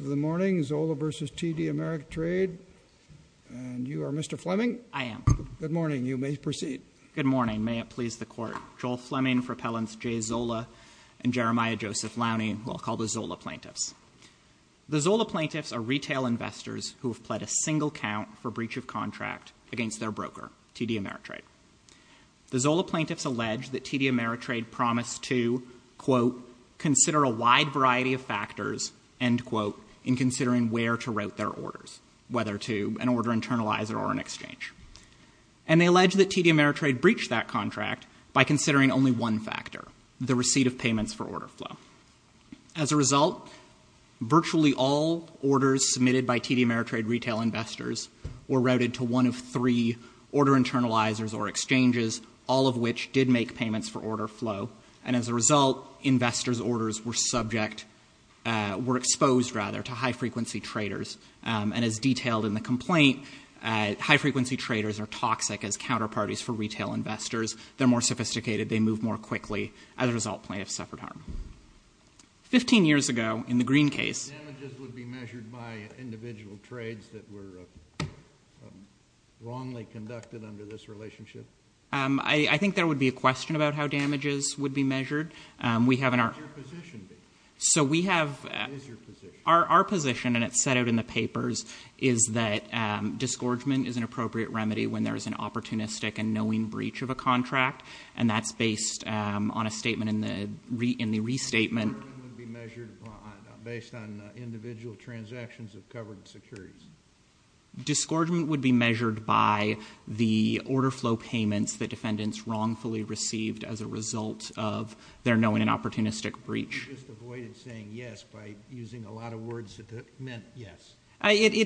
Good morning, Zola v. TD Ameritrade, and you are Mr. Fleming? I am. Good morning. You may proceed. Good morning. May it please the Court. Joel Fleming for Appellants J. Zola and Jeremiah Joseph Lowney, who I'll call the Zola Plaintiffs. The Zola Plaintiffs are retail investors who have pled a single count for breach of contract against their broker, TD Ameritrade. The Zola Plaintiffs allege that TD Ameritrade promised to, quote, consider a wide variety of factors, end quote, in considering where to route their orders, whether to an order internalizer or an exchange. And they allege that TD Ameritrade breached that contract by considering only one factor, the receipt of payments for order flow. As a result, virtually all orders submitted by TD Ameritrade retail investors were routed to one of three order internalizers or exchanges, all of which did make payments for order flow. And as a result, investors' orders were subject, were exposed, rather, to high-frequency traders. And as detailed in the complaint, high-frequency traders are toxic as counterparties for retail investors. They're more sophisticated. They move more quickly. As a result, plaintiffs suffered harm. Fifteen years ago, in the Green case — Damages would be measured by individual trades that were wrongly conducted under this relationship? I think there would be a question about how damages would be measured. We have an — What would your position be? So we have — What is your position? Our position, and it's set out in the papers, is that disgorgement is an appropriate remedy when there is an opportunistic and knowing breach of a contract. And that's based on a statement in the restatement — Would disgorgement be measured based on individual transactions of covered securities? Disgorgement would be measured by the order flow payments that defendants wrongfully received as a result of their knowing and opportunistic breach. You just avoided saying yes by using a lot of words that meant yes. It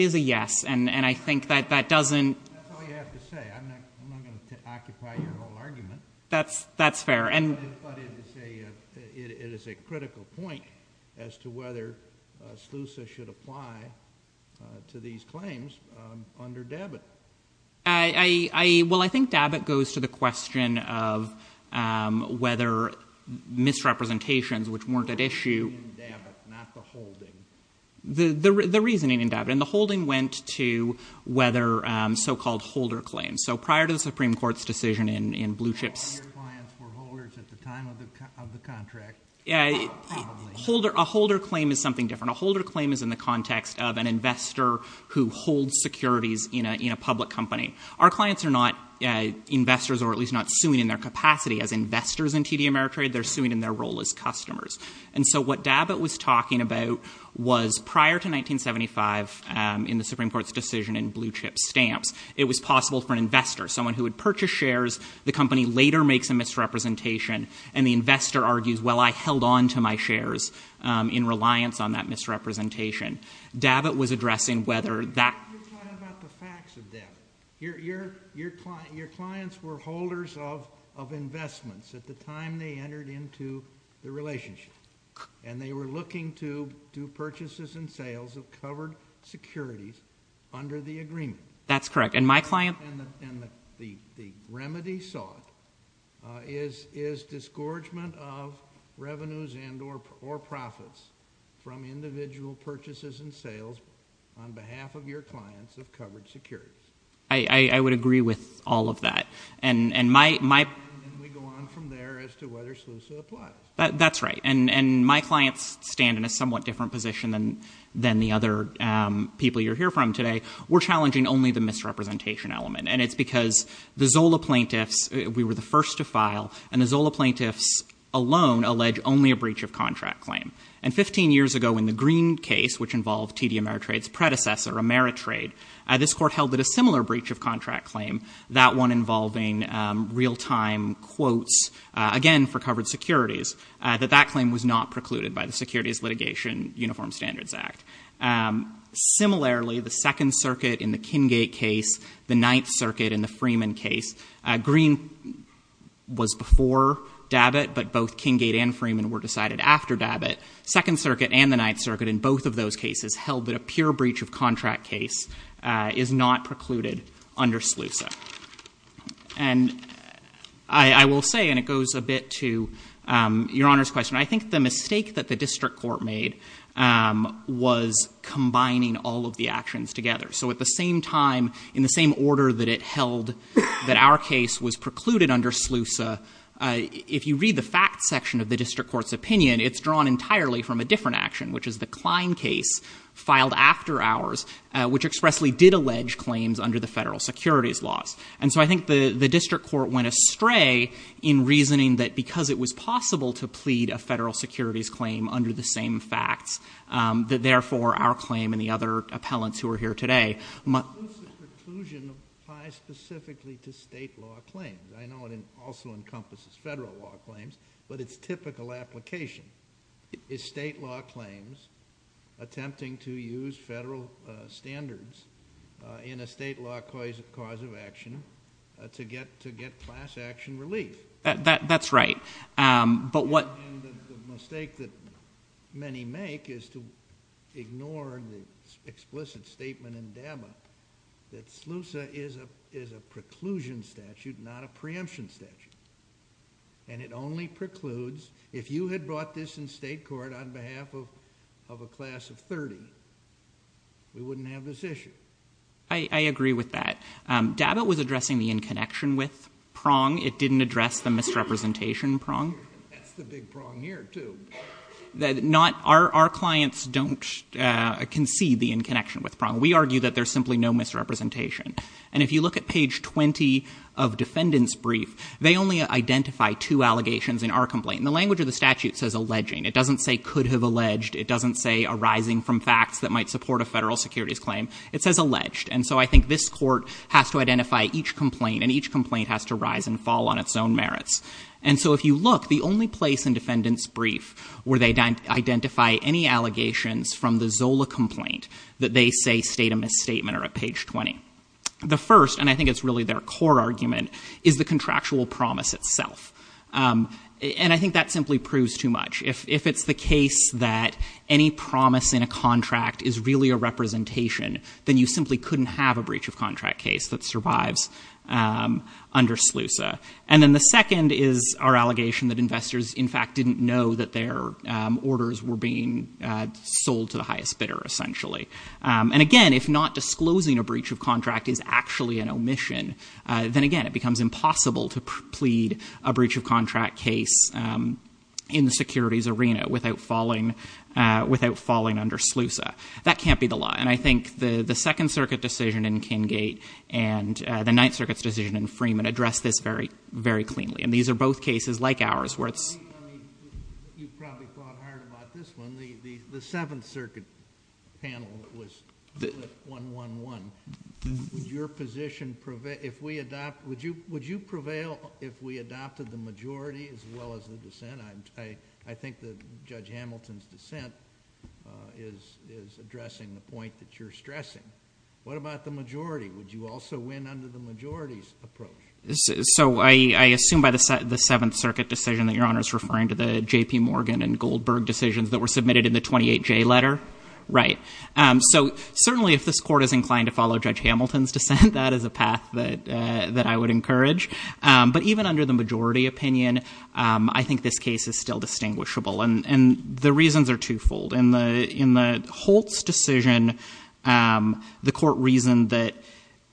is a yes, and I think that that doesn't — That's all you have to say. I'm not going to occupy your whole argument. That's fair. But it is a critical point as to whether SLUSA should apply to these claims under DABIT. Well, I think DABIT goes to the question of whether misrepresentations, which weren't at issue — The reasoning in DABIT, not the holding. The reasoning in DABIT. And the holding went to whether so-called holder claims. So prior to the Supreme Court's decision in Blue Chips — So all your clients were holders at the time of the contract. A holder claim is something different. A holder claim is in the context of an investor who holds securities in a public company. Our clients are not investors, or at least not suing in their capacity as investors in TD Ameritrade. They're suing in their role as customers. And so what DABIT was talking about was prior to 1975, in the Supreme Court's decision in Blue Chips stamps, it was possible for an investor, someone who would purchase shares, the company later makes a misrepresentation, and the investor argues, well, I held on to my shares in reliance on that misrepresentation. DABIT was addressing whether that — You're talking about the facts of DABIT. Your clients were holders of investments at the time they entered into the relationship. And they were looking to do purchases and sales of covered securities under the agreement. That's correct. And my client — And the remedy sought is disgorgement of revenues and or profits from individual purchases and sales on behalf of your clients of covered securities. I would agree with all of that. And my — And we go on from there as to whether SLUSA applies. That's right. And my clients stand in a somewhat different position than the other people you'll hear from today. We're challenging only the misrepresentation element. And it's because the Zola plaintiffs — we were the first to file, and the Zola plaintiffs alone allege only a breach of contract claim. And 15 years ago in the Green case, which involved TD Ameritrade's predecessor, Ameritrade, this court held that a similar breach of contract claim, that one involving real-time quotes, again, for covered securities, that that claim was not precluded by the Securities Litigation Uniform Standards Act. Similarly, the Second Circuit in the Kingate case, the Ninth Circuit in the Freeman case — Green was before DABIT, but both Kingate and Freeman were decided after DABIT. Second Circuit and the Ninth Circuit in both of those cases held that a pure breach of contract case is not precluded under SLUSA. And I will say, and it goes a bit to Your Honor's question, I think the mistake that was combining all of the actions together. So at the same time, in the same order that it held that our case was precluded under SLUSA, if you read the facts section of the district court's opinion, it's drawn entirely from a different action, which is the Klein case filed after ours, which expressly did allege claims under the federal securities laws. And so I think the district court went astray in reasoning that because it was possible to plead a federal securities claim under the same facts, that therefore our claim and the other appellants who are here today —— SLUSA preclusion applies specifically to state law claims. I know it also encompasses federal law claims, but its typical application is state law claims attempting to use federal standards in a state law cause of action to get class action relief. That's right. And the mistake that many make is to ignore the explicit statement in DABA that SLUSA is a preclusion statute, not a preemption statute. And it only precludes — if you had brought this in state court on behalf of a class of 30, we wouldn't have this issue. I agree with that. DABA was addressing the in-connection with prong. It didn't address the misrepresentation prong. That's the big prong here, too. Our clients don't concede the in-connection with prong. We argue that there's simply no misrepresentation. And if you look at page 20 of defendant's brief, they only identify two allegations in our complaint. And the language of the statute says alleging. It doesn't say could have alleged. It doesn't say arising from facts that might support a federal securities claim. It says alleged. And so I think this court has to identify each complaint, and each complaint has to fall on its own merits. And so if you look, the only place in defendant's brief where they identify any allegations from the ZOLA complaint that they say state a misstatement are at page 20. The first, and I think it's really their core argument, is the contractual promise itself. And I think that simply proves too much. If it's the case that any promise in a contract is really a representation, then you simply couldn't have a breach of contract case that survives under SLUSA. And then the second is our allegation that investors in fact didn't know that their orders were being sold to the highest bidder, essentially. And again, if not disclosing a breach of contract is actually an omission, then again, it becomes impossible to plead a breach of contract case in the securities arena without falling under SLUSA. That can't be the law. And I think the Second Circuit decision in Kingate and the Ninth Circuit's decision in Freeman addressed this very cleanly. And these are both cases like ours where it's— I mean, you probably thought hard about this one. The Seventh Circuit panel that was split 1-1-1, would your position—if we adopt—would you prevail if we adopted the majority as well as the dissent? I think that Judge Hamilton's dissent is addressing the point that you're stressing. What about the majority? Would you also win under the majority's approach? So I assume by the Seventh Circuit decision that Your Honor is referring to the J.P. Morgan and Goldberg decisions that were submitted in the 28J letter? Right. So certainly if this Court is inclined to follow Judge Hamilton's dissent, that is a path that I would encourage. But even under the majority opinion, I think this case is still distinguishable. And the reasons are twofold. In the Holtz decision, the Court reasoned that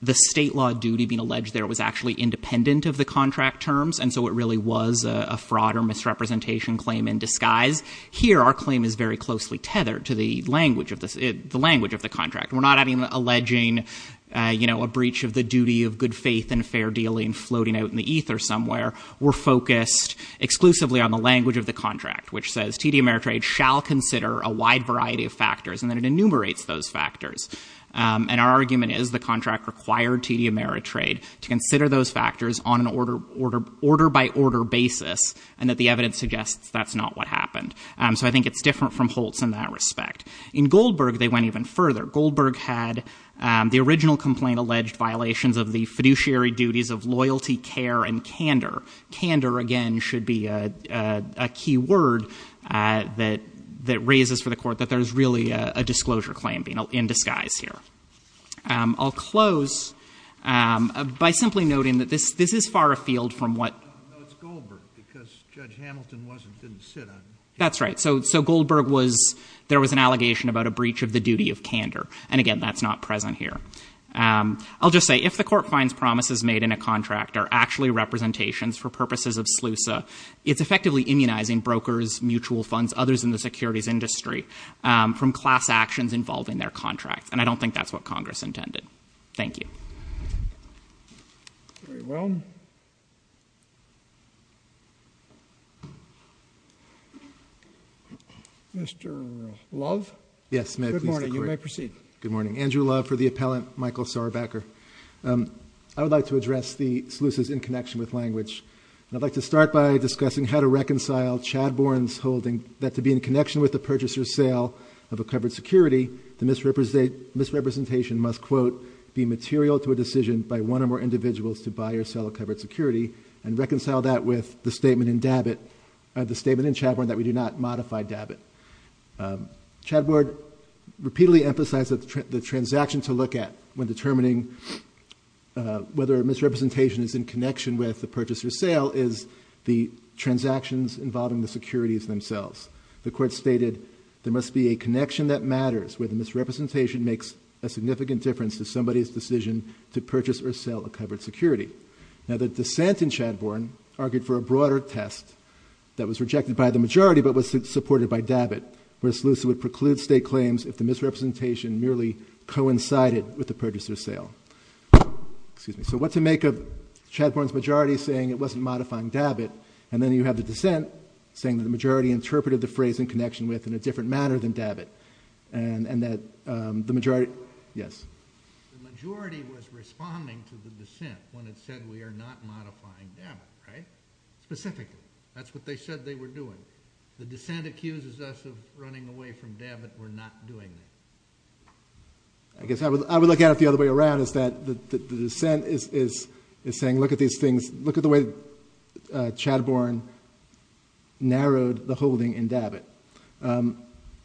the state law duty being alleged there was actually independent of the contract terms, and so it really was a fraud or misrepresentation claim in disguise. Here our claim is very closely tethered to the language of the contract. We're not alleging a breach of the duty of good faith and fair dealing floating out in the ether somewhere. We're focused exclusively on the language of the contract, which says T.D. Ameritrade shall consider a wide variety of factors, and then it enumerates those factors. And our argument is the contract required T.D. Ameritrade to consider those factors on an order-by-order basis, and that the evidence suggests that's not what happened. So I think it's different from Holtz in that respect. In Goldberg, they went even further. Goldberg had the original complaint alleged violations of the fiduciary duties of loyalty, care, and candor. Candor, again, should be a key word that raises for the Court that there's really a disclosure claim being in disguise here. I'll close by simply noting that this is far afield from what— No, it's Goldberg, because Judge Hamilton didn't sit on it. That's right. So Goldberg was—there was an allegation about a breach of the duty of candor. And again, that's not present here. I'll just say, if the Court finds promises made in a contract are actually representations for purposes of SLUSA, it's effectively immunizing brokers, mutual funds, others in the securities industry from class actions involving their contracts. And I don't think that's what Congress intended. Thank you. Very well. Mr. Love? Yes, may I please— Good morning. You may proceed. Good morning. Andrew Love for the appellant, Michael Saurbacker. I would like to address the SLUSAs in connection with language. And I'd like to start by discussing how to reconcile Chad Bourne's holding that to be in connection with the purchaser's sale of a covered security, the misrepresentation must, quote, be material to a decision by one or more individuals to buy or sell a covered security and reconcile that with the statement in Dabit—the statement in Chad Bourne that we do not modify Dabit. Chad Bourne repeatedly emphasized that the transaction to look at when determining whether a misrepresentation is in connection with the purchaser's sale is the transactions involving the securities themselves. The Court stated there must be a connection that matters where the misrepresentation makes a significant difference to somebody's decision to purchase or sell a covered security. Now, the dissent in Chad Bourne argued for a broader test that was rejected by the majority but was supported by Dabit, where SLUSA would preclude state claims if the misrepresentation merely coincided with the purchaser's sale. Excuse me. So what to make of Chad Bourne's majority saying it wasn't modifying Dabit, and then you have the dissent saying that the majority interpreted the phrase in connection with in a different manner than Dabit, and that the majority— Yes. The majority was responding to the dissent when it said we are not modifying Dabit, right? Specifically. That's what they said they were doing. The dissent accuses us of running away from Dabit. We're not doing that. I guess I would look at it the other way around, is that the dissent is saying, look at these narrowed the holding in Dabit,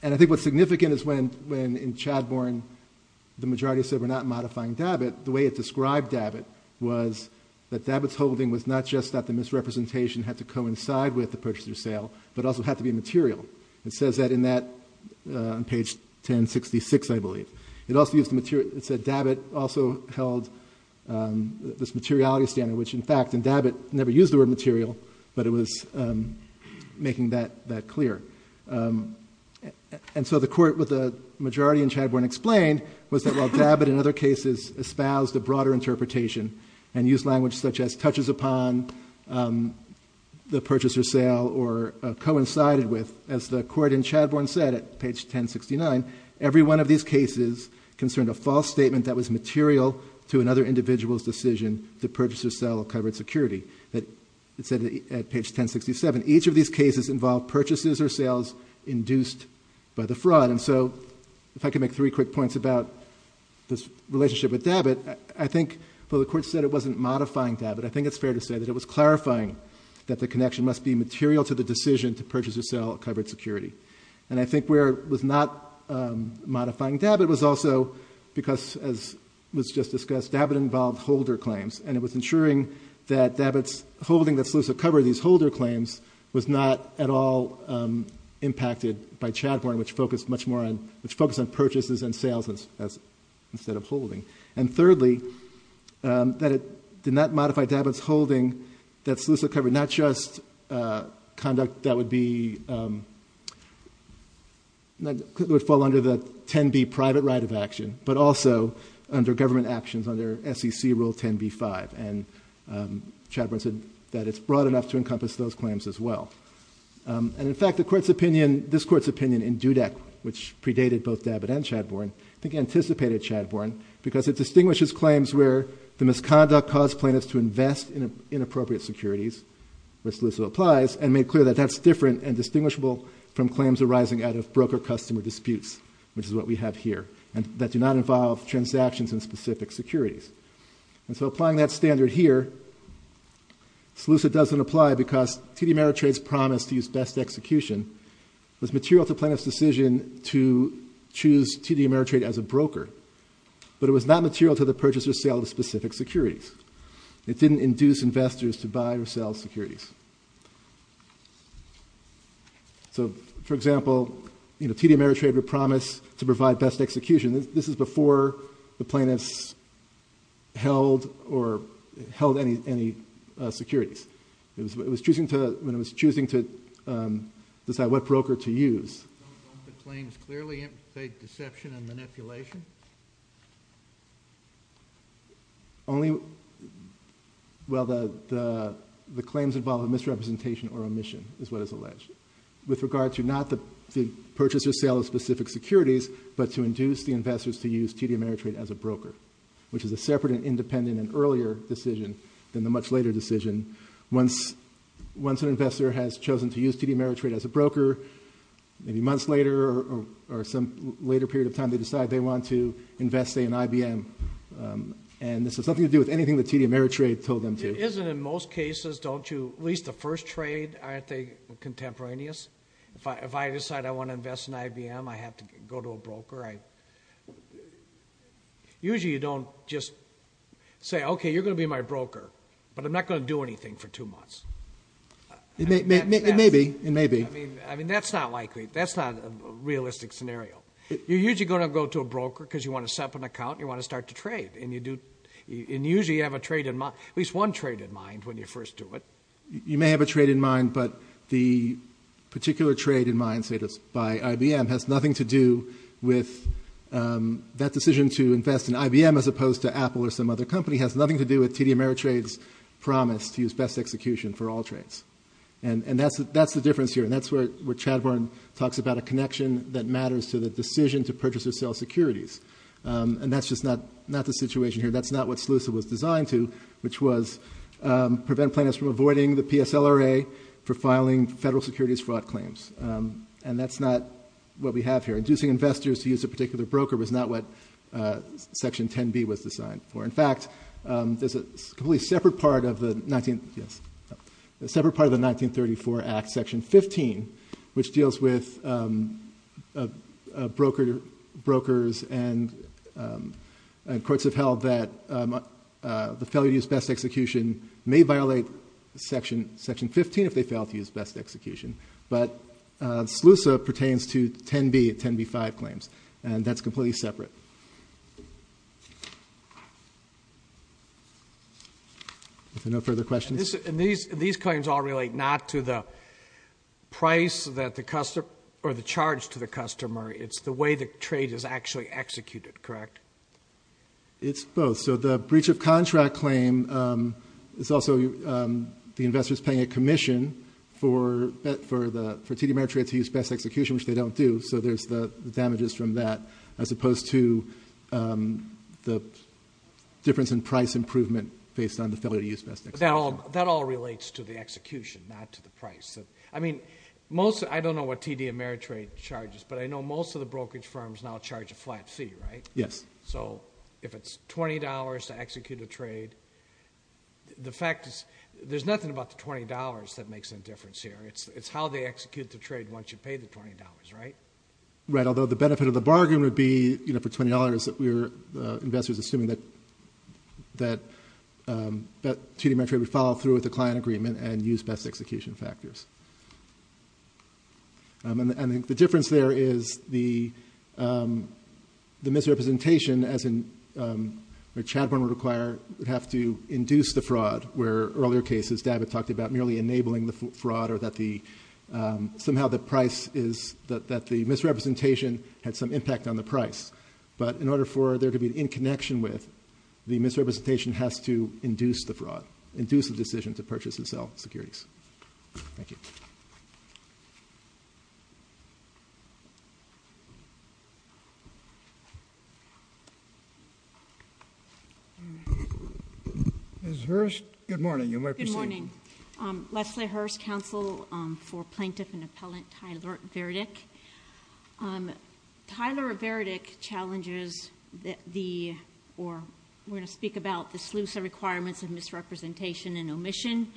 and I think what's significant is when in Chad Bourne the majority said we're not modifying Dabit, the way it described Dabit was that Dabit's holding was not just that the misrepresentation had to coincide with the purchaser's sale but also had to be material. It says that in that—on page 1066, I believe. It also used the material—it said Dabit also held this materiality standard, which in fact in Dabit never used the word material, but it was making that clear. And so the court with the majority in Chad Bourne explained was that while Dabit in other cases espoused a broader interpretation and used language such as touches upon the purchaser's sale or coincided with, as the court in Chad Bourne said at page 1069, every one of these cases concerned a false statement that was material to another individual's decision to purchase or sell covered security. It said at page 1067, each of these cases involved purchases or sales induced by the fraud. And so if I could make three quick points about this relationship with Dabit, I think while the court said it wasn't modifying Dabit, I think it's fair to say that it was clarifying that the connection must be material to the decision to purchase or sell covered security. And I think where it was not modifying Dabit was also because, as was just discussed, Dabit involved holder claims and it was ensuring that Dabit's holding that's lucid cover, these holder claims, was not at all impacted by Chad Bourne, which focused much more on, which focused on purchases and sales instead of holding. And thirdly, that it did not modify Dabit's holding that's lucid cover, not just conduct that would be, that would fall under the 10B private right of action, but also under government actions under SEC Rule 10B-5, and Chad Bourne said that it's broad enough to encompass those claims as well. And in fact, the court's opinion, this court's opinion in DUDEC, which predated both Dabit and Chad Bourne, I think anticipated Chad Bourne because it distinguishes claims where the misconduct caused plaintiffs to invest in inappropriate securities, which also applies, and made clear that that's different and distinguishable from claims arising out of broker-customer specific securities. And so, applying that standard here, it's lucid doesn't apply because TD Ameritrade's promise to use best execution was material to plaintiffs' decision to choose TD Ameritrade as a broker, but it was not material to the purchaser's sale of specific securities. It didn't induce investors to buy or sell securities. So, for example, you know, TD Ameritrade would promise to provide best execution. This is before the plaintiffs held or held any securities. It was choosing to, when it was choosing to decide what broker to use. Don't the claims clearly implicate deception and manipulation? Only, well, the claims involve a misrepresentation or omission, is what is alleged. With regard to not the purchaser's sale of specific securities, but to induce the investors to use TD Ameritrade as a broker, which is a separate and independent and earlier decision than the much later decision. Once an investor has chosen to use TD Ameritrade as a broker, maybe months later or some later period of time, they decide they want to invest, say, in IBM. And this has nothing to do with anything that TD Ameritrade told them to. It isn't in most cases, don't you, at least the first trade, aren't they contemporaneous? If I decide I want to invest in IBM, I have to go to a broker. Usually you don't just say, okay, you're going to be my broker, but I'm not going to do anything for two months. It may be. It may be. I mean, that's not likely. That's not a realistic scenario. You're usually going to go to a broker because you want to set up an account and you want to start to trade. And usually you have a trade in mind, at least one trade in mind when you first do it. You may have a trade in mind, but the particular trade in mind, say, by IBM, has nothing to do with that decision to invest in IBM as opposed to Apple or some other company, has nothing to do with TD Ameritrade's promise to use best execution for all trades. And that's the difference here. And that's where Chad Warren talks about a connection that matters to the decision to purchase or sell securities. And that's just not the situation here. That's not what SLUSA was designed to, which was prevent plaintiffs from avoiding the PSLRA for filing federal securities fraud claims. And that's not what we have here. Inducing investors to use a particular broker was not what Section 10b was designed for. In fact, there's a completely separate part of the 1934 Act, Section 15, which deals with brokers and courts have held that the failure to use best execution may violate Section 15 if they fail to use best execution. But SLUSA pertains to 10b, 10b-5 claims. And that's completely separate. Are there no further questions? These claims all relate not to the price that the customer or the charge to the customer. It's the way the trade is actually executed, correct? It's both. So the breach of contract claim is also the investors paying a commission for TD Ameritrade to use best execution, which they don't do. So there's the damages from that, as opposed to the difference in price improvement based on the failure to use best execution. That all relates to the execution, not to the price. I mean, I don't know what TD Ameritrade charges, but I know most of the brokerage firms now charge a flat fee, right? Yes. So if it's $20 to execute a trade, the fact is there's nothing about the $20 that makes a difference here. It's how they execute the trade once you pay the $20, right? Right, although the benefit of the bargain would be, you know, for $20, investors are assuming that TD Ameritrade would follow through with the client agreement and use best execution factors. And the difference there is the misrepresentation, as in where Chadbourne would require, would have to induce the fraud, where earlier cases David talked about merely enabling the fraud or that somehow the price is, that the misrepresentation had some impact on the price. But in order for there to be an in connection with, the misrepresentation has to induce the fraud, induce the decision to purchase and sell securities. Thank you. Ms. Hurst, good morning. You may proceed. Good morning. Leslie Hurst, counsel for plaintiff and appellant Tyler Verdick. Tyler Verdick challenges the, or we're going to speak about the SLUSA requirements of misrepresentation and omission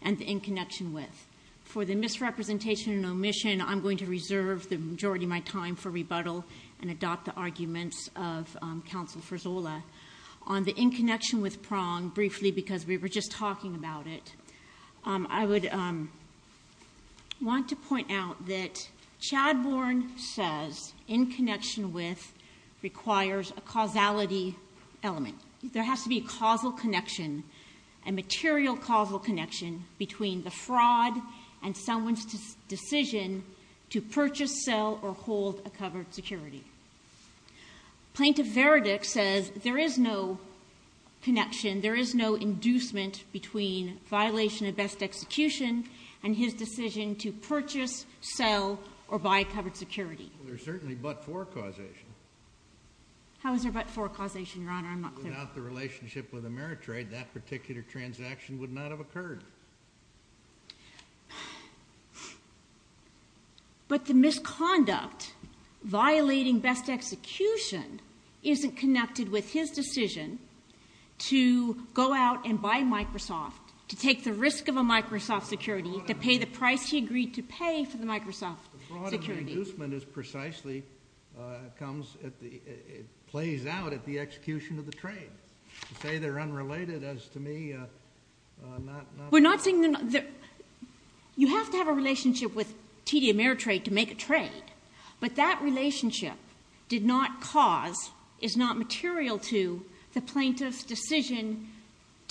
and the in connection with. For the misrepresentation and omission, I'm going to reserve the majority of my time for rebuttal and adopt the arguments of counsel Frizzola. On the in connection with prong, briefly because we were just talking about it, I would want to point out that Chadbourne says in connection with requires a causality element. There has to be a causal connection, a material causal connection between the fraud and someone's decision to purchase, sell, or hold a covered security. Plaintiff Verdick says there is no connection, there is no inducement between violation of best execution and his decision to purchase, sell, or buy covered security. There's certainly but-for causation. How is there but-for causation, your honor? I'm not clear. Without the relationship with Ameritrade, that particular transaction would not have occurred. But the misconduct violating best execution isn't connected with his decision to go out and buy Microsoft, to take the risk of a Microsoft security, to pay the price he agreed to pay for the Microsoft security. The fraud and the inducement is precisely comes at the, it plays out at the execution of the trade. To say they're unrelated as to me, not. We're not saying, you have to have a relationship with TD Ameritrade to make a trade. But that relationship did not cause, is not material to the plaintiff's decision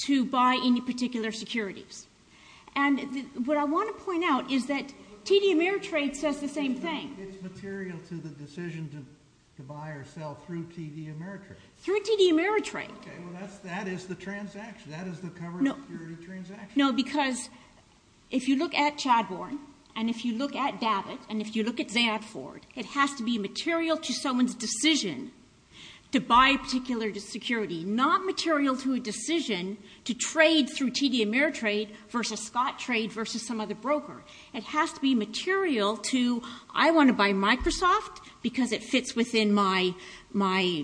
to buy any particular securities. And what I want to point out is that TD Ameritrade says the same thing. It's material to the decision to buy or sell through TD Ameritrade. Through TD Ameritrade. Okay, well that is the transaction, that is the covered security transaction. No, because if you look at Chadbourne, and if you look at Davit, and if you look at Zandford, it has to be material to someone's decision to buy a particular security. Not material to a decision to trade through TD Ameritrade versus Scottrade versus some other broker. It has to be material to, I want to buy Microsoft because it fits within my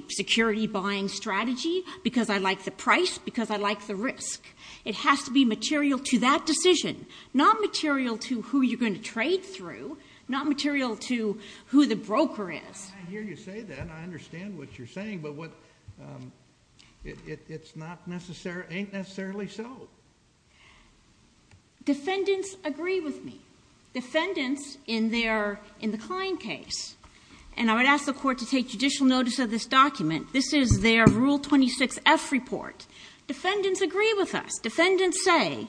security buying strategy. Because I like the price, because I like the risk. It has to be material to that decision. Not material to who you're going to trade through, not material to who the broker is. I hear you say that, I understand what you're saying, but it's not necessarily, ain't necessarily so. Defendants agree with me. Defendants in the client case, and I would ask the court to take judicial notice of this document. This is their rule 26F report. Defendants agree with us. Defendants say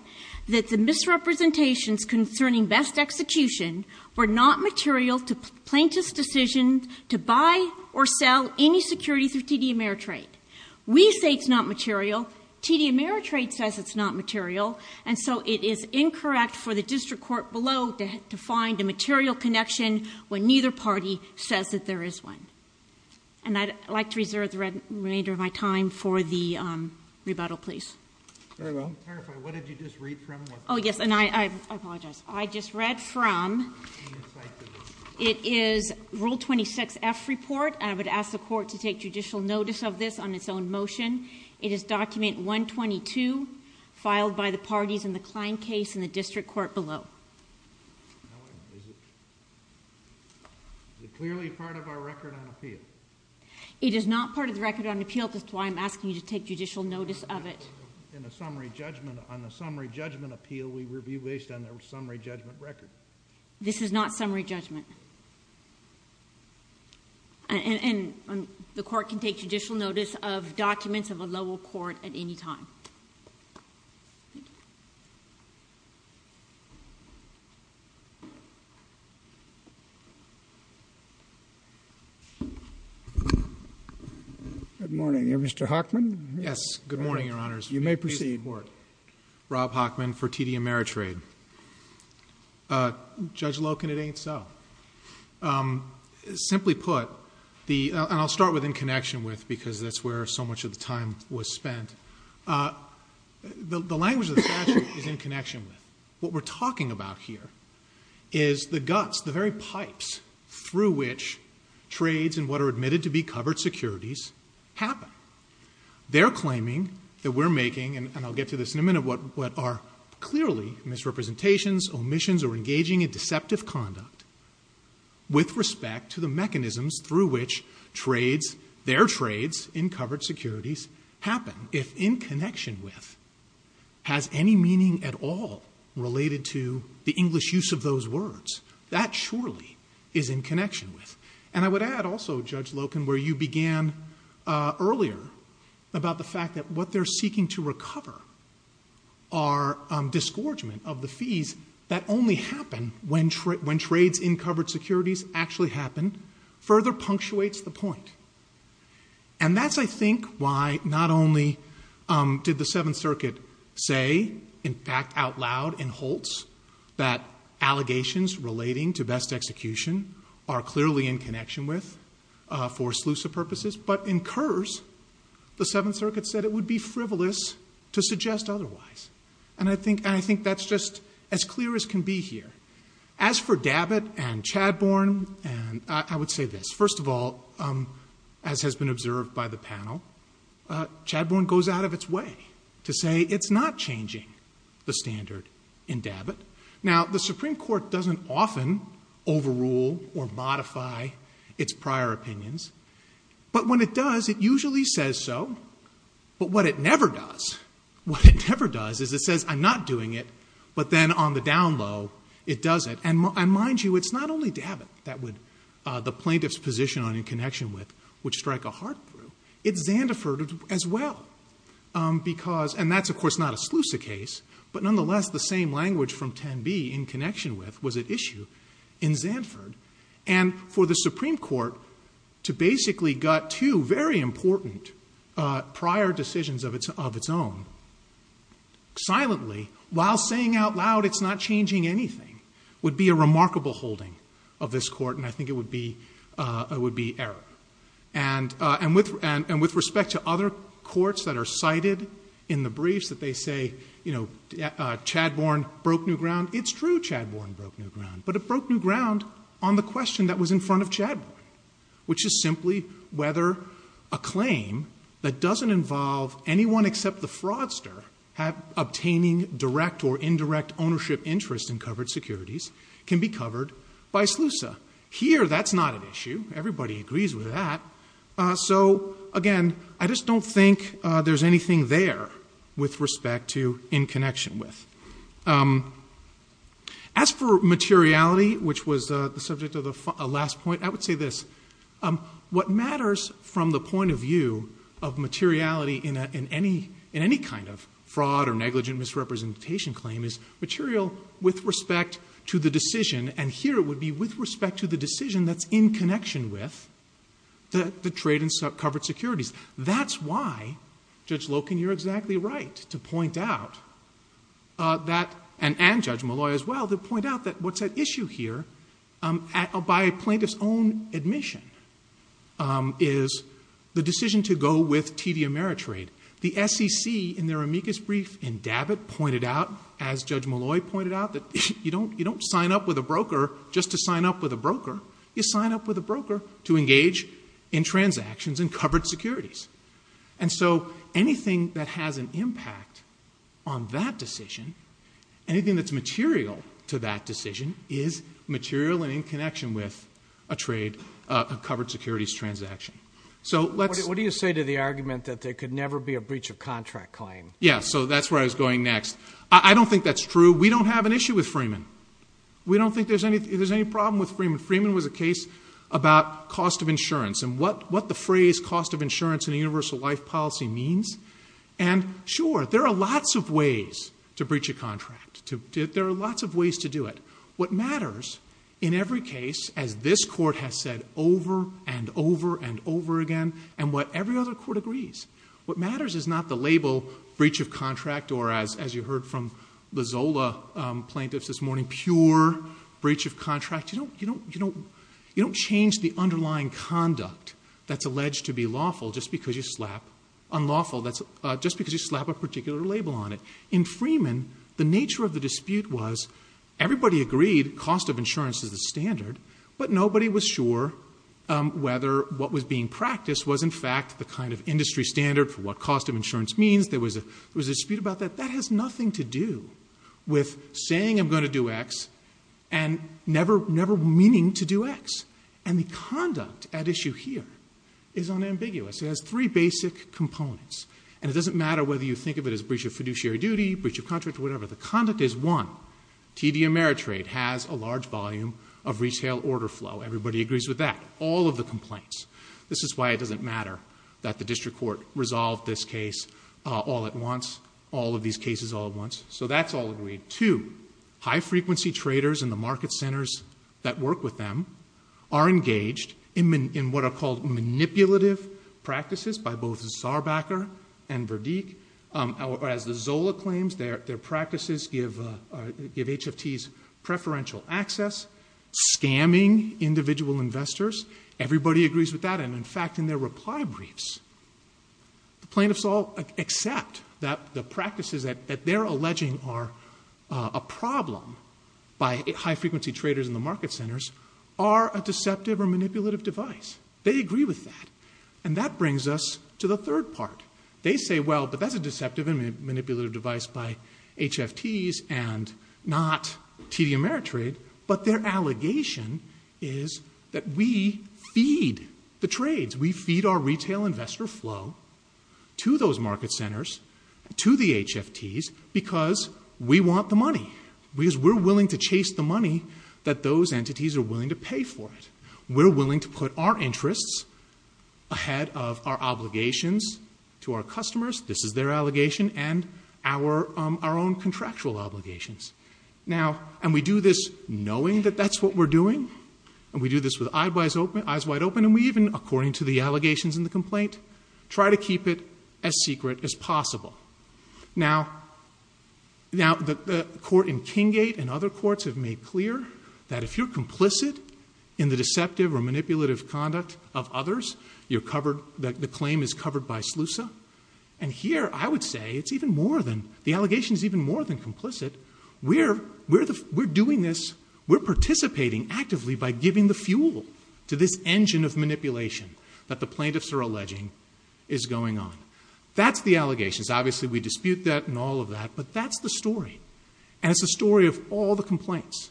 that the misrepresentations concerning best execution were not material to plaintiff's decision to buy or sell any security through TD Ameritrade. We say it's not material, TD Ameritrade says it's not material, and so it is incorrect for the district court below to find a material connection when neither party says that there is one. And I'd like to reserve the remainder of my time for the rebuttal, please. Very well. I'm terrified, what did you just read from? Yes, and I apologize. I just read from, it is rule 26F report, and I would ask the court to take judicial notice of this on its own motion. It is document 122, filed by the parties in the client case in the district court below. Is it clearly part of our record on appeal? It is not part of the record on appeal, that's why I'm asking you to take judicial notice of it. In the summary judgment, on the summary judgment appeal, we review based on the summary judgment record. This is not summary judgment. And the court can take judicial notice of documents of a lower court at any time. Good morning, are you Mr. Hockman? Yes, good morning, your honors. You may proceed. Rob Hockman for TD Ameritrade. Judge Loken, it ain't so. Simply put, and I'll start with in connection with, because that's where so much of the time was spent. The language of the statute is in connection with. What we're talking about here is the guts, the very pipes through which trades in what are admitted to be covered securities happen. They're claiming that we're making, and I'll get to this in a minute, what are clearly misrepresentations, omissions, or engaging in deceptive conduct with respect to the mechanisms through which their trades in covered securities happen. If in connection with has any meaning at all related to the English use of those words. That surely is in connection with. And I would add also, Judge Loken, where you began earlier about the fact that what they're seeking to recover are disgorgement of the fees that only happen when trades in covered securities actually happen. Further punctuates the point. And that's, I think, why not only did the Seventh Circuit say, in fact, out loud in Holtz, that allegations relating to best execution are clearly in connection with, for sleuths of purposes. But in Kurz, the Seventh Circuit said it would be frivolous to suggest otherwise. And I think that's just as clear as can be here. As for Dabbitt and Chadbourne, I would say this. First of all, as has been observed by the panel, Chadbourne goes out of its way to say it's not changing the standard in Dabbitt. Now, the Supreme Court doesn't often overrule or modify its prior opinions. But when it does, it usually says so. But what it never does, what it never does is it says, I'm not doing it. But then on the down low, it does it. And mind you, it's not only Dabbitt that would, the plaintiff's position on in connection with, which strike a heart through, it's Zanderford as well. Because, and that's of course not a Slusa case. But nonetheless, the same language from Tenby in connection with was at issue in Zanderford. And for the Supreme Court to basically gut two very important prior decisions of its own, silently, while saying out loud it's not changing anything, would be a remarkable holding of this court. And I think it would be, it would be error. And with, and with respect to other courts that are cited in the briefs that they say, you know, Chadbourne broke new ground. It's true Chadbourne broke new ground. But it broke new ground on the question that was in front of Chadbourne. Which is simply whether a claim that doesn't involve anyone except the fraudster have obtaining direct or indirect ownership interest in covered securities can be covered by Slusa. Here, that's not an issue. Everybody agrees with that. So again, I just don't think there's anything there with respect to in connection with. As for materiality, which was the subject of the last point, I would say this, what matters from the point of view of materiality in any kind of fraud or negligent misrepresentation claim is material with respect to the decision. And here it would be with respect to the decision that's in connection with the trade in covered securities. That's why, Judge Loken, you're exactly right to point out that, and Judge Molloy as well, to point out that what's at issue here, by a plaintiff's own admission, is the decision to go with TD Ameritrade. The SEC in their amicus brief in Dabbitt pointed out, as Judge Molloy pointed out, that you don't sign up with a broker just to sign up with a broker. You sign up with a broker to engage in transactions in covered securities. And so anything that has an impact on that decision, anything that's material to that decision is material and in connection with a trade, a covered securities transaction. So let's- What do you say to the argument that there could never be a breach of contract claim? Yeah, so that's where I was going next. I don't think that's true. We don't have an issue with Freeman. We don't think there's any problem with Freeman. Freeman was a case about cost of insurance and what the phrase cost of insurance in a universal life policy means. And sure, there are lots of ways to breach a contract. There are lots of ways to do it. What matters in every case, as this court has said over and over and over again, and what every other court agrees, what matters is not the label breach of contract or as you heard from the Zola plaintiffs this morning, pure breach of contract. You don't change the underlying conduct that's alleged to be lawful just because you slap unlawful. That's just because you slap a particular label on it. In Freeman, the nature of the dispute was everybody agreed cost of insurance is the standard, but nobody was sure whether what was being practiced was in fact the kind of industry standard for what cost of insurance means. There was a dispute about that. That has nothing to do with saying I'm going to do X and never meaning to do X. And the conduct at issue here is unambiguous. It has three basic components. And it doesn't matter whether you think of it as breach of fiduciary duty, breach of contract, whatever. The conduct is one, TD Ameritrade has a large volume of retail order flow. Everybody agrees with that. All of the complaints. This is why it doesn't matter that the district court resolved this case all at once, all of these cases all at once. So that's all agreed. Two, high frequency traders in the market centers that work with them are engaged in what are called manipulative practices by both Zarbacker and Verdique. As the Zola claims, their practices give HFTs preferential access, scamming individual investors. Everybody agrees with that. And in fact, in their reply briefs, the plaintiffs all accept that the practices that they're alleging are a problem by high frequency traders in the market centers are a deceptive or manipulative device. They agree with that. And that brings us to the third part. They say, well, but that's a deceptive and manipulative device by HFTs and not TD Ameritrade. But their allegation is that we feed the trades. We feed our retail investor flow to those market centers, to the HFTs, because we want the money. Because we're willing to chase the money that those entities are willing to pay for it. We're willing to put our interests ahead of our obligations to our customers. This is their allegation. And our own contractual obligations. Now, and we do this knowing that that's what we're doing. And we do this with eyes wide open. And we even, according to the allegations in the complaint, try to keep it as secret as possible. Now, the court in King Gate and other courts have made clear that if you're complicit in the deceptive or manipulative conduct of others, the claim is covered by SLUSA. And here, I would say, it's even more than, the allegation is even more than complicit. We're doing this, we're participating actively by giving the fuel to this engine of manipulation that the plaintiffs are alleging is going on. That's the allegations. Obviously, we dispute that and all of that. But that's the story. And it's the story of all the complaints.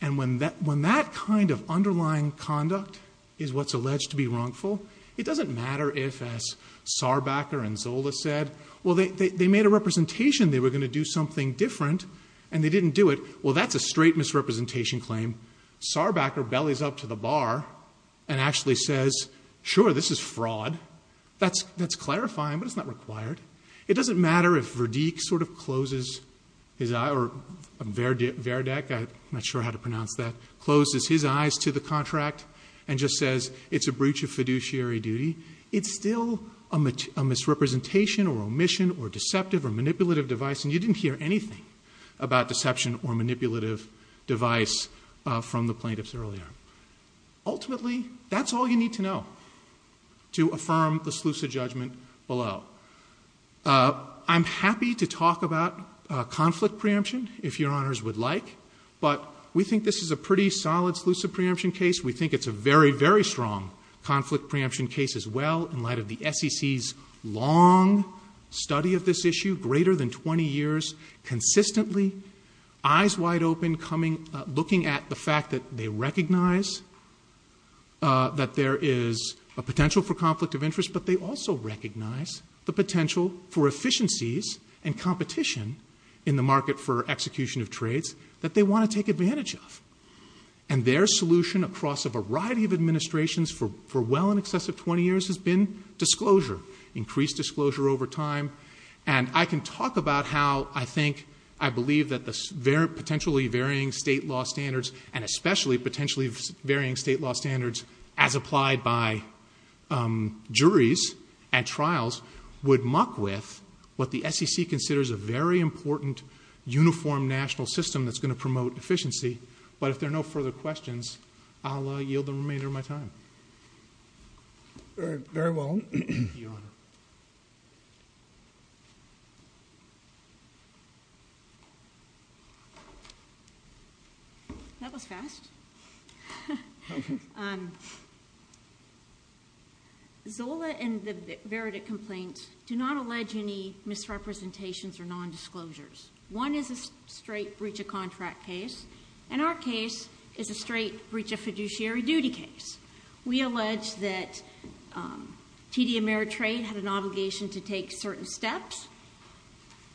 And when that kind of underlying conduct is what's alleged to be wrongful, it doesn't matter if, as Sarbacher and Zola said, well, they made a representation. They were going to do something different. And they didn't do it. Well, that's a straight misrepresentation claim. Sarbacher bellies up to the bar and actually says, sure, this is fraud. That's clarifying, but it's not required. It doesn't matter if Verdik sort of closes his eye, or Verdik, I'm not sure how to pronounce that, closes his eyes to the contract and just says, it's a breach of fiduciary duty. It's still a misrepresentation or omission or deceptive or manipulative device. And you didn't hear anything about deception or manipulative device from the plaintiffs earlier. Ultimately, that's all you need to know to affirm the SLUSA judgment below. I'm happy to talk about conflict preemption, if your honors would like. But we think this is a pretty solid SLUSA preemption case. We think it's a very, very strong conflict preemption case as well in light of the SEC's long study of this issue, greater than 20 years. Consistently, eyes wide open, looking at the fact that they recognize that there is a potential for conflict of interest. But they also recognize the potential for efficiencies and competition in the market for execution of trades that they want to take advantage of. And their solution across a variety of administrations for well in excess of 20 years has been disclosure, increased disclosure over time. And I can talk about how I think, I believe that the potentially varying state law standards, and especially potentially varying state law standards as applied by juries and trials would muck with what the SEC considers a very important uniform national system that's going to promote efficiency. But if there are no further questions, I'll yield the remainder of my time. Very well. Your honor. That was fast. Zola and the Verita complaints do not allege any misrepresentations or nondisclosures. One is a straight breach of contract case. And our case is a straight breach of fiduciary duty case. We allege that TD Ameritrade had an obligation to take certain steps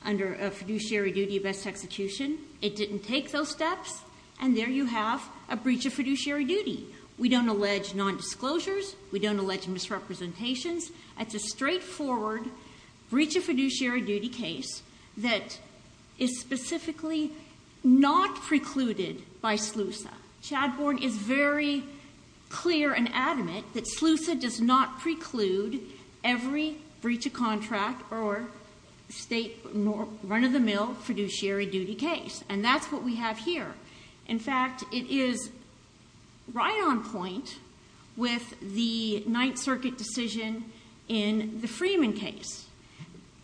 under a fiduciary duty of best execution. It didn't take those steps. And there you have a breach of fiduciary duty. We don't allege nondisclosures. We don't allege misrepresentations. It's a straightforward breach of fiduciary duty case that is specifically not precluded by SLUSA. Chadbourne is very clear and adamant that SLUSA does not preclude every breach of contract or state run-of-the-mill fiduciary duty case. And that's what we have here. In fact, it is right on point with the Ninth Circuit decision in the Freeman case.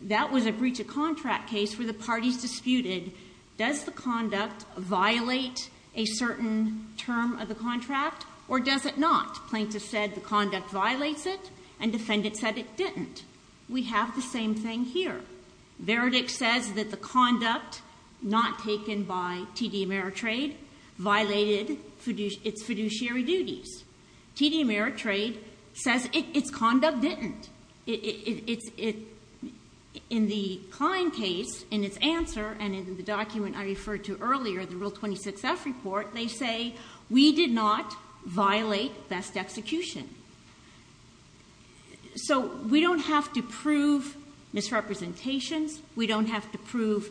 That was a breach of contract case where the parties disputed, does the conduct violate a certain term of the contract or does it not? Plaintiff said the conduct violates it and defendant said it didn't. We have the same thing here. Verdict says that the conduct not taken by TD Ameritrade violated its fiduciary duties. TD Ameritrade says its conduct didn't. In the Klein case, in its answer and in the document I referred to earlier, the Rule 26F report, they say we did not violate best execution. So we don't have to prove misrepresentations. We don't have to prove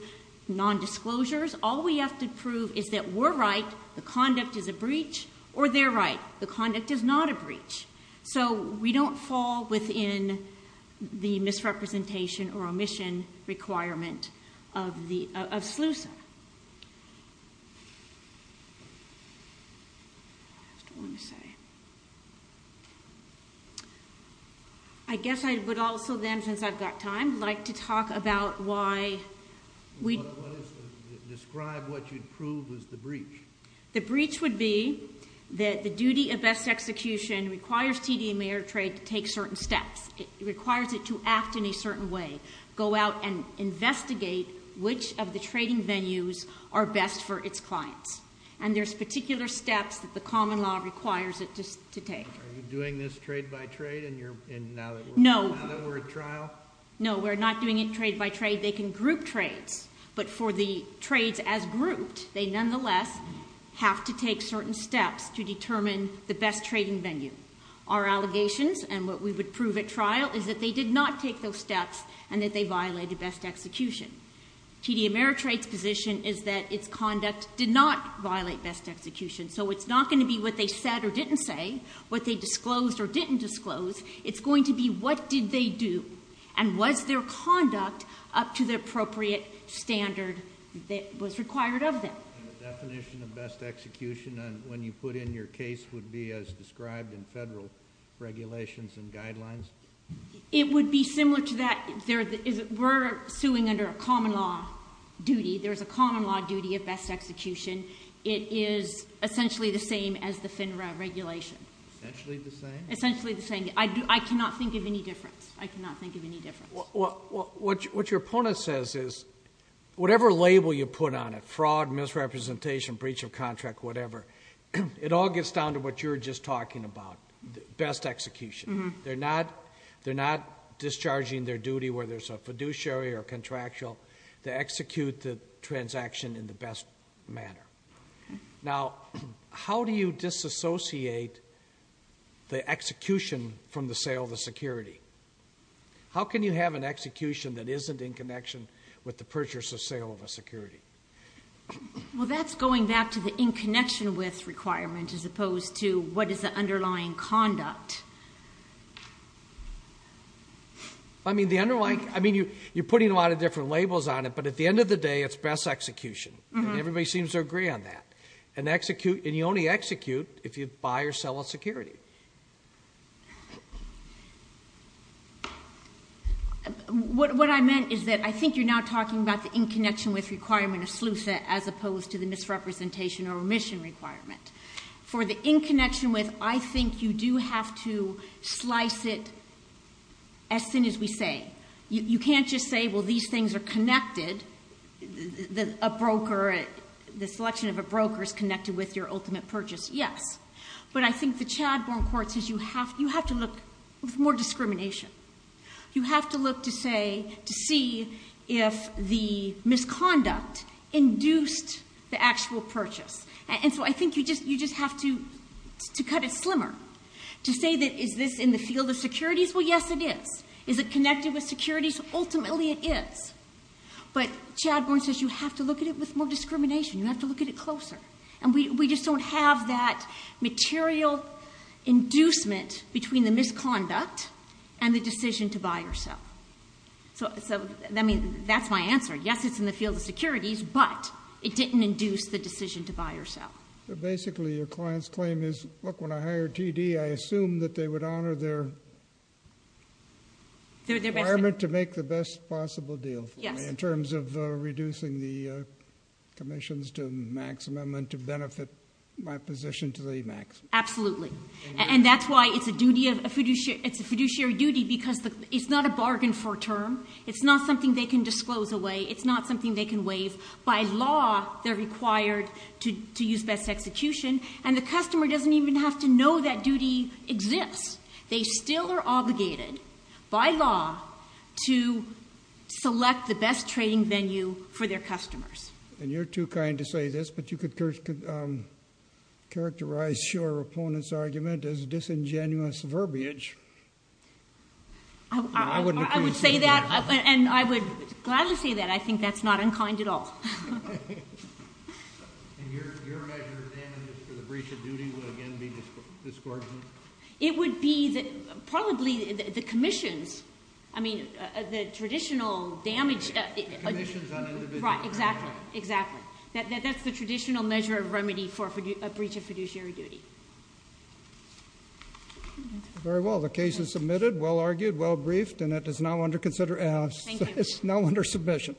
nondisclosures. All we have to prove is that we're right, the conduct is a breach, or they're right, the conduct is not a breach. So we don't fall within the misrepresentation or omission requirement of SLUSA. I guess I would also then, since I've got time, like to talk about why we... Describe what you'd prove was the breach. The breach would be that the duty of best execution requires TD Ameritrade to take certain steps. It requires it to act in a certain way. Go out and investigate which of the trading venues are best for its clients. And there's particular steps that the common law requires it to take. Are you doing this trade by trade now that we're at trial? No, we're not doing it trade by trade. They can group trades, but for the trades as grouped, they nonetheless have to take certain steps to determine the best trading venue. Our allegations, and what we would prove at trial, is that they did not take those steps and that they violated best execution. TD Ameritrade's position is that its conduct did not violate best execution. So it's not going to be what they said or didn't say, what they disclosed or didn't disclose. It's going to be what did they do and was their conduct up to the appropriate standard that was required of them. And the definition of best execution when you put in your case would be as described in federal regulations and guidelines? It would be similar to that. We're suing under a common law duty. There's a common law duty of best execution. It is essentially the same as the FINRA regulation. Essentially the same? Essentially the same. I cannot think of any difference. I cannot think of any difference. What your opponent says is, whatever label you put on it, fraud, misrepresentation, breach of contract, whatever, it all gets down to what you were just talking about, best execution. They're not discharging their duty, whether it's a fiduciary or contractual, to execute the transaction in the best manner. Now, how do you disassociate the execution from the sale of the security? How can you have an execution that isn't in connection with the purchase or sale of a security? Well, that's going back to the in connection with requirement as opposed to what is the underlying conduct. I mean, you're putting a lot of different labels on it, but at the end of the day, it's best execution. Everybody seems to agree on that. And you only execute if you buy or sell a security. What I meant is that I think you're now talking about the in connection with requirement of SLUSA as opposed to the misrepresentation or remission requirement. For the in connection with, I think you do have to slice it as soon as we say. You can't just say, well, these things are connected. A broker, the selection of a broker is connected with your ultimate purchase. Yes. But I think the Chadbourne Court says you have to look for more discrimination. You have to look to say, to see if the misconduct induced the actual purchase. And so I think you just have to cut it slimmer. To say that, is this in the field of securities? Well, yes, it is. Is it connected with securities? Ultimately, it is. But Chadbourne says you have to look at it with more discrimination. You have to look at it closer. And we just don't have that material inducement between the misconduct and the decision to buy or sell. So, I mean, that's my answer. Yes, it's in the field of securities, but it didn't induce the decision to buy or sell. Basically, your client's claim is, look, when I hired TD, I assumed that they would honor their requirement to make the best possible deal for me in terms of reducing the commissions to maximum and to benefit my position to the maximum. Absolutely. And that's why it's a fiduciary duty because it's not a bargain for a term. It's not something they can disclose away. It's not something they can waive. By law, they're required to use best execution, and the customer doesn't even have to know that duty exists. They still are obligated by law to select the best trading venue for their customers. And you're too kind to say this, but you could characterize your opponent's argument as disingenuous verbiage. I wouldn't agree with that. I would say that, and I would gladly say that. I think that's not unkind at all. And your measure of damages for the breach of duty would, again, be discordant? It would be probably the commissions. I mean, the traditional damage. Commissions on individual crime. Right, exactly, exactly. That's the traditional measure of remedy for a breach of fiduciary duty. Very well. The case is submitted, well argued, well briefed, and it is now under consideration. Thank you. The case is now under submission.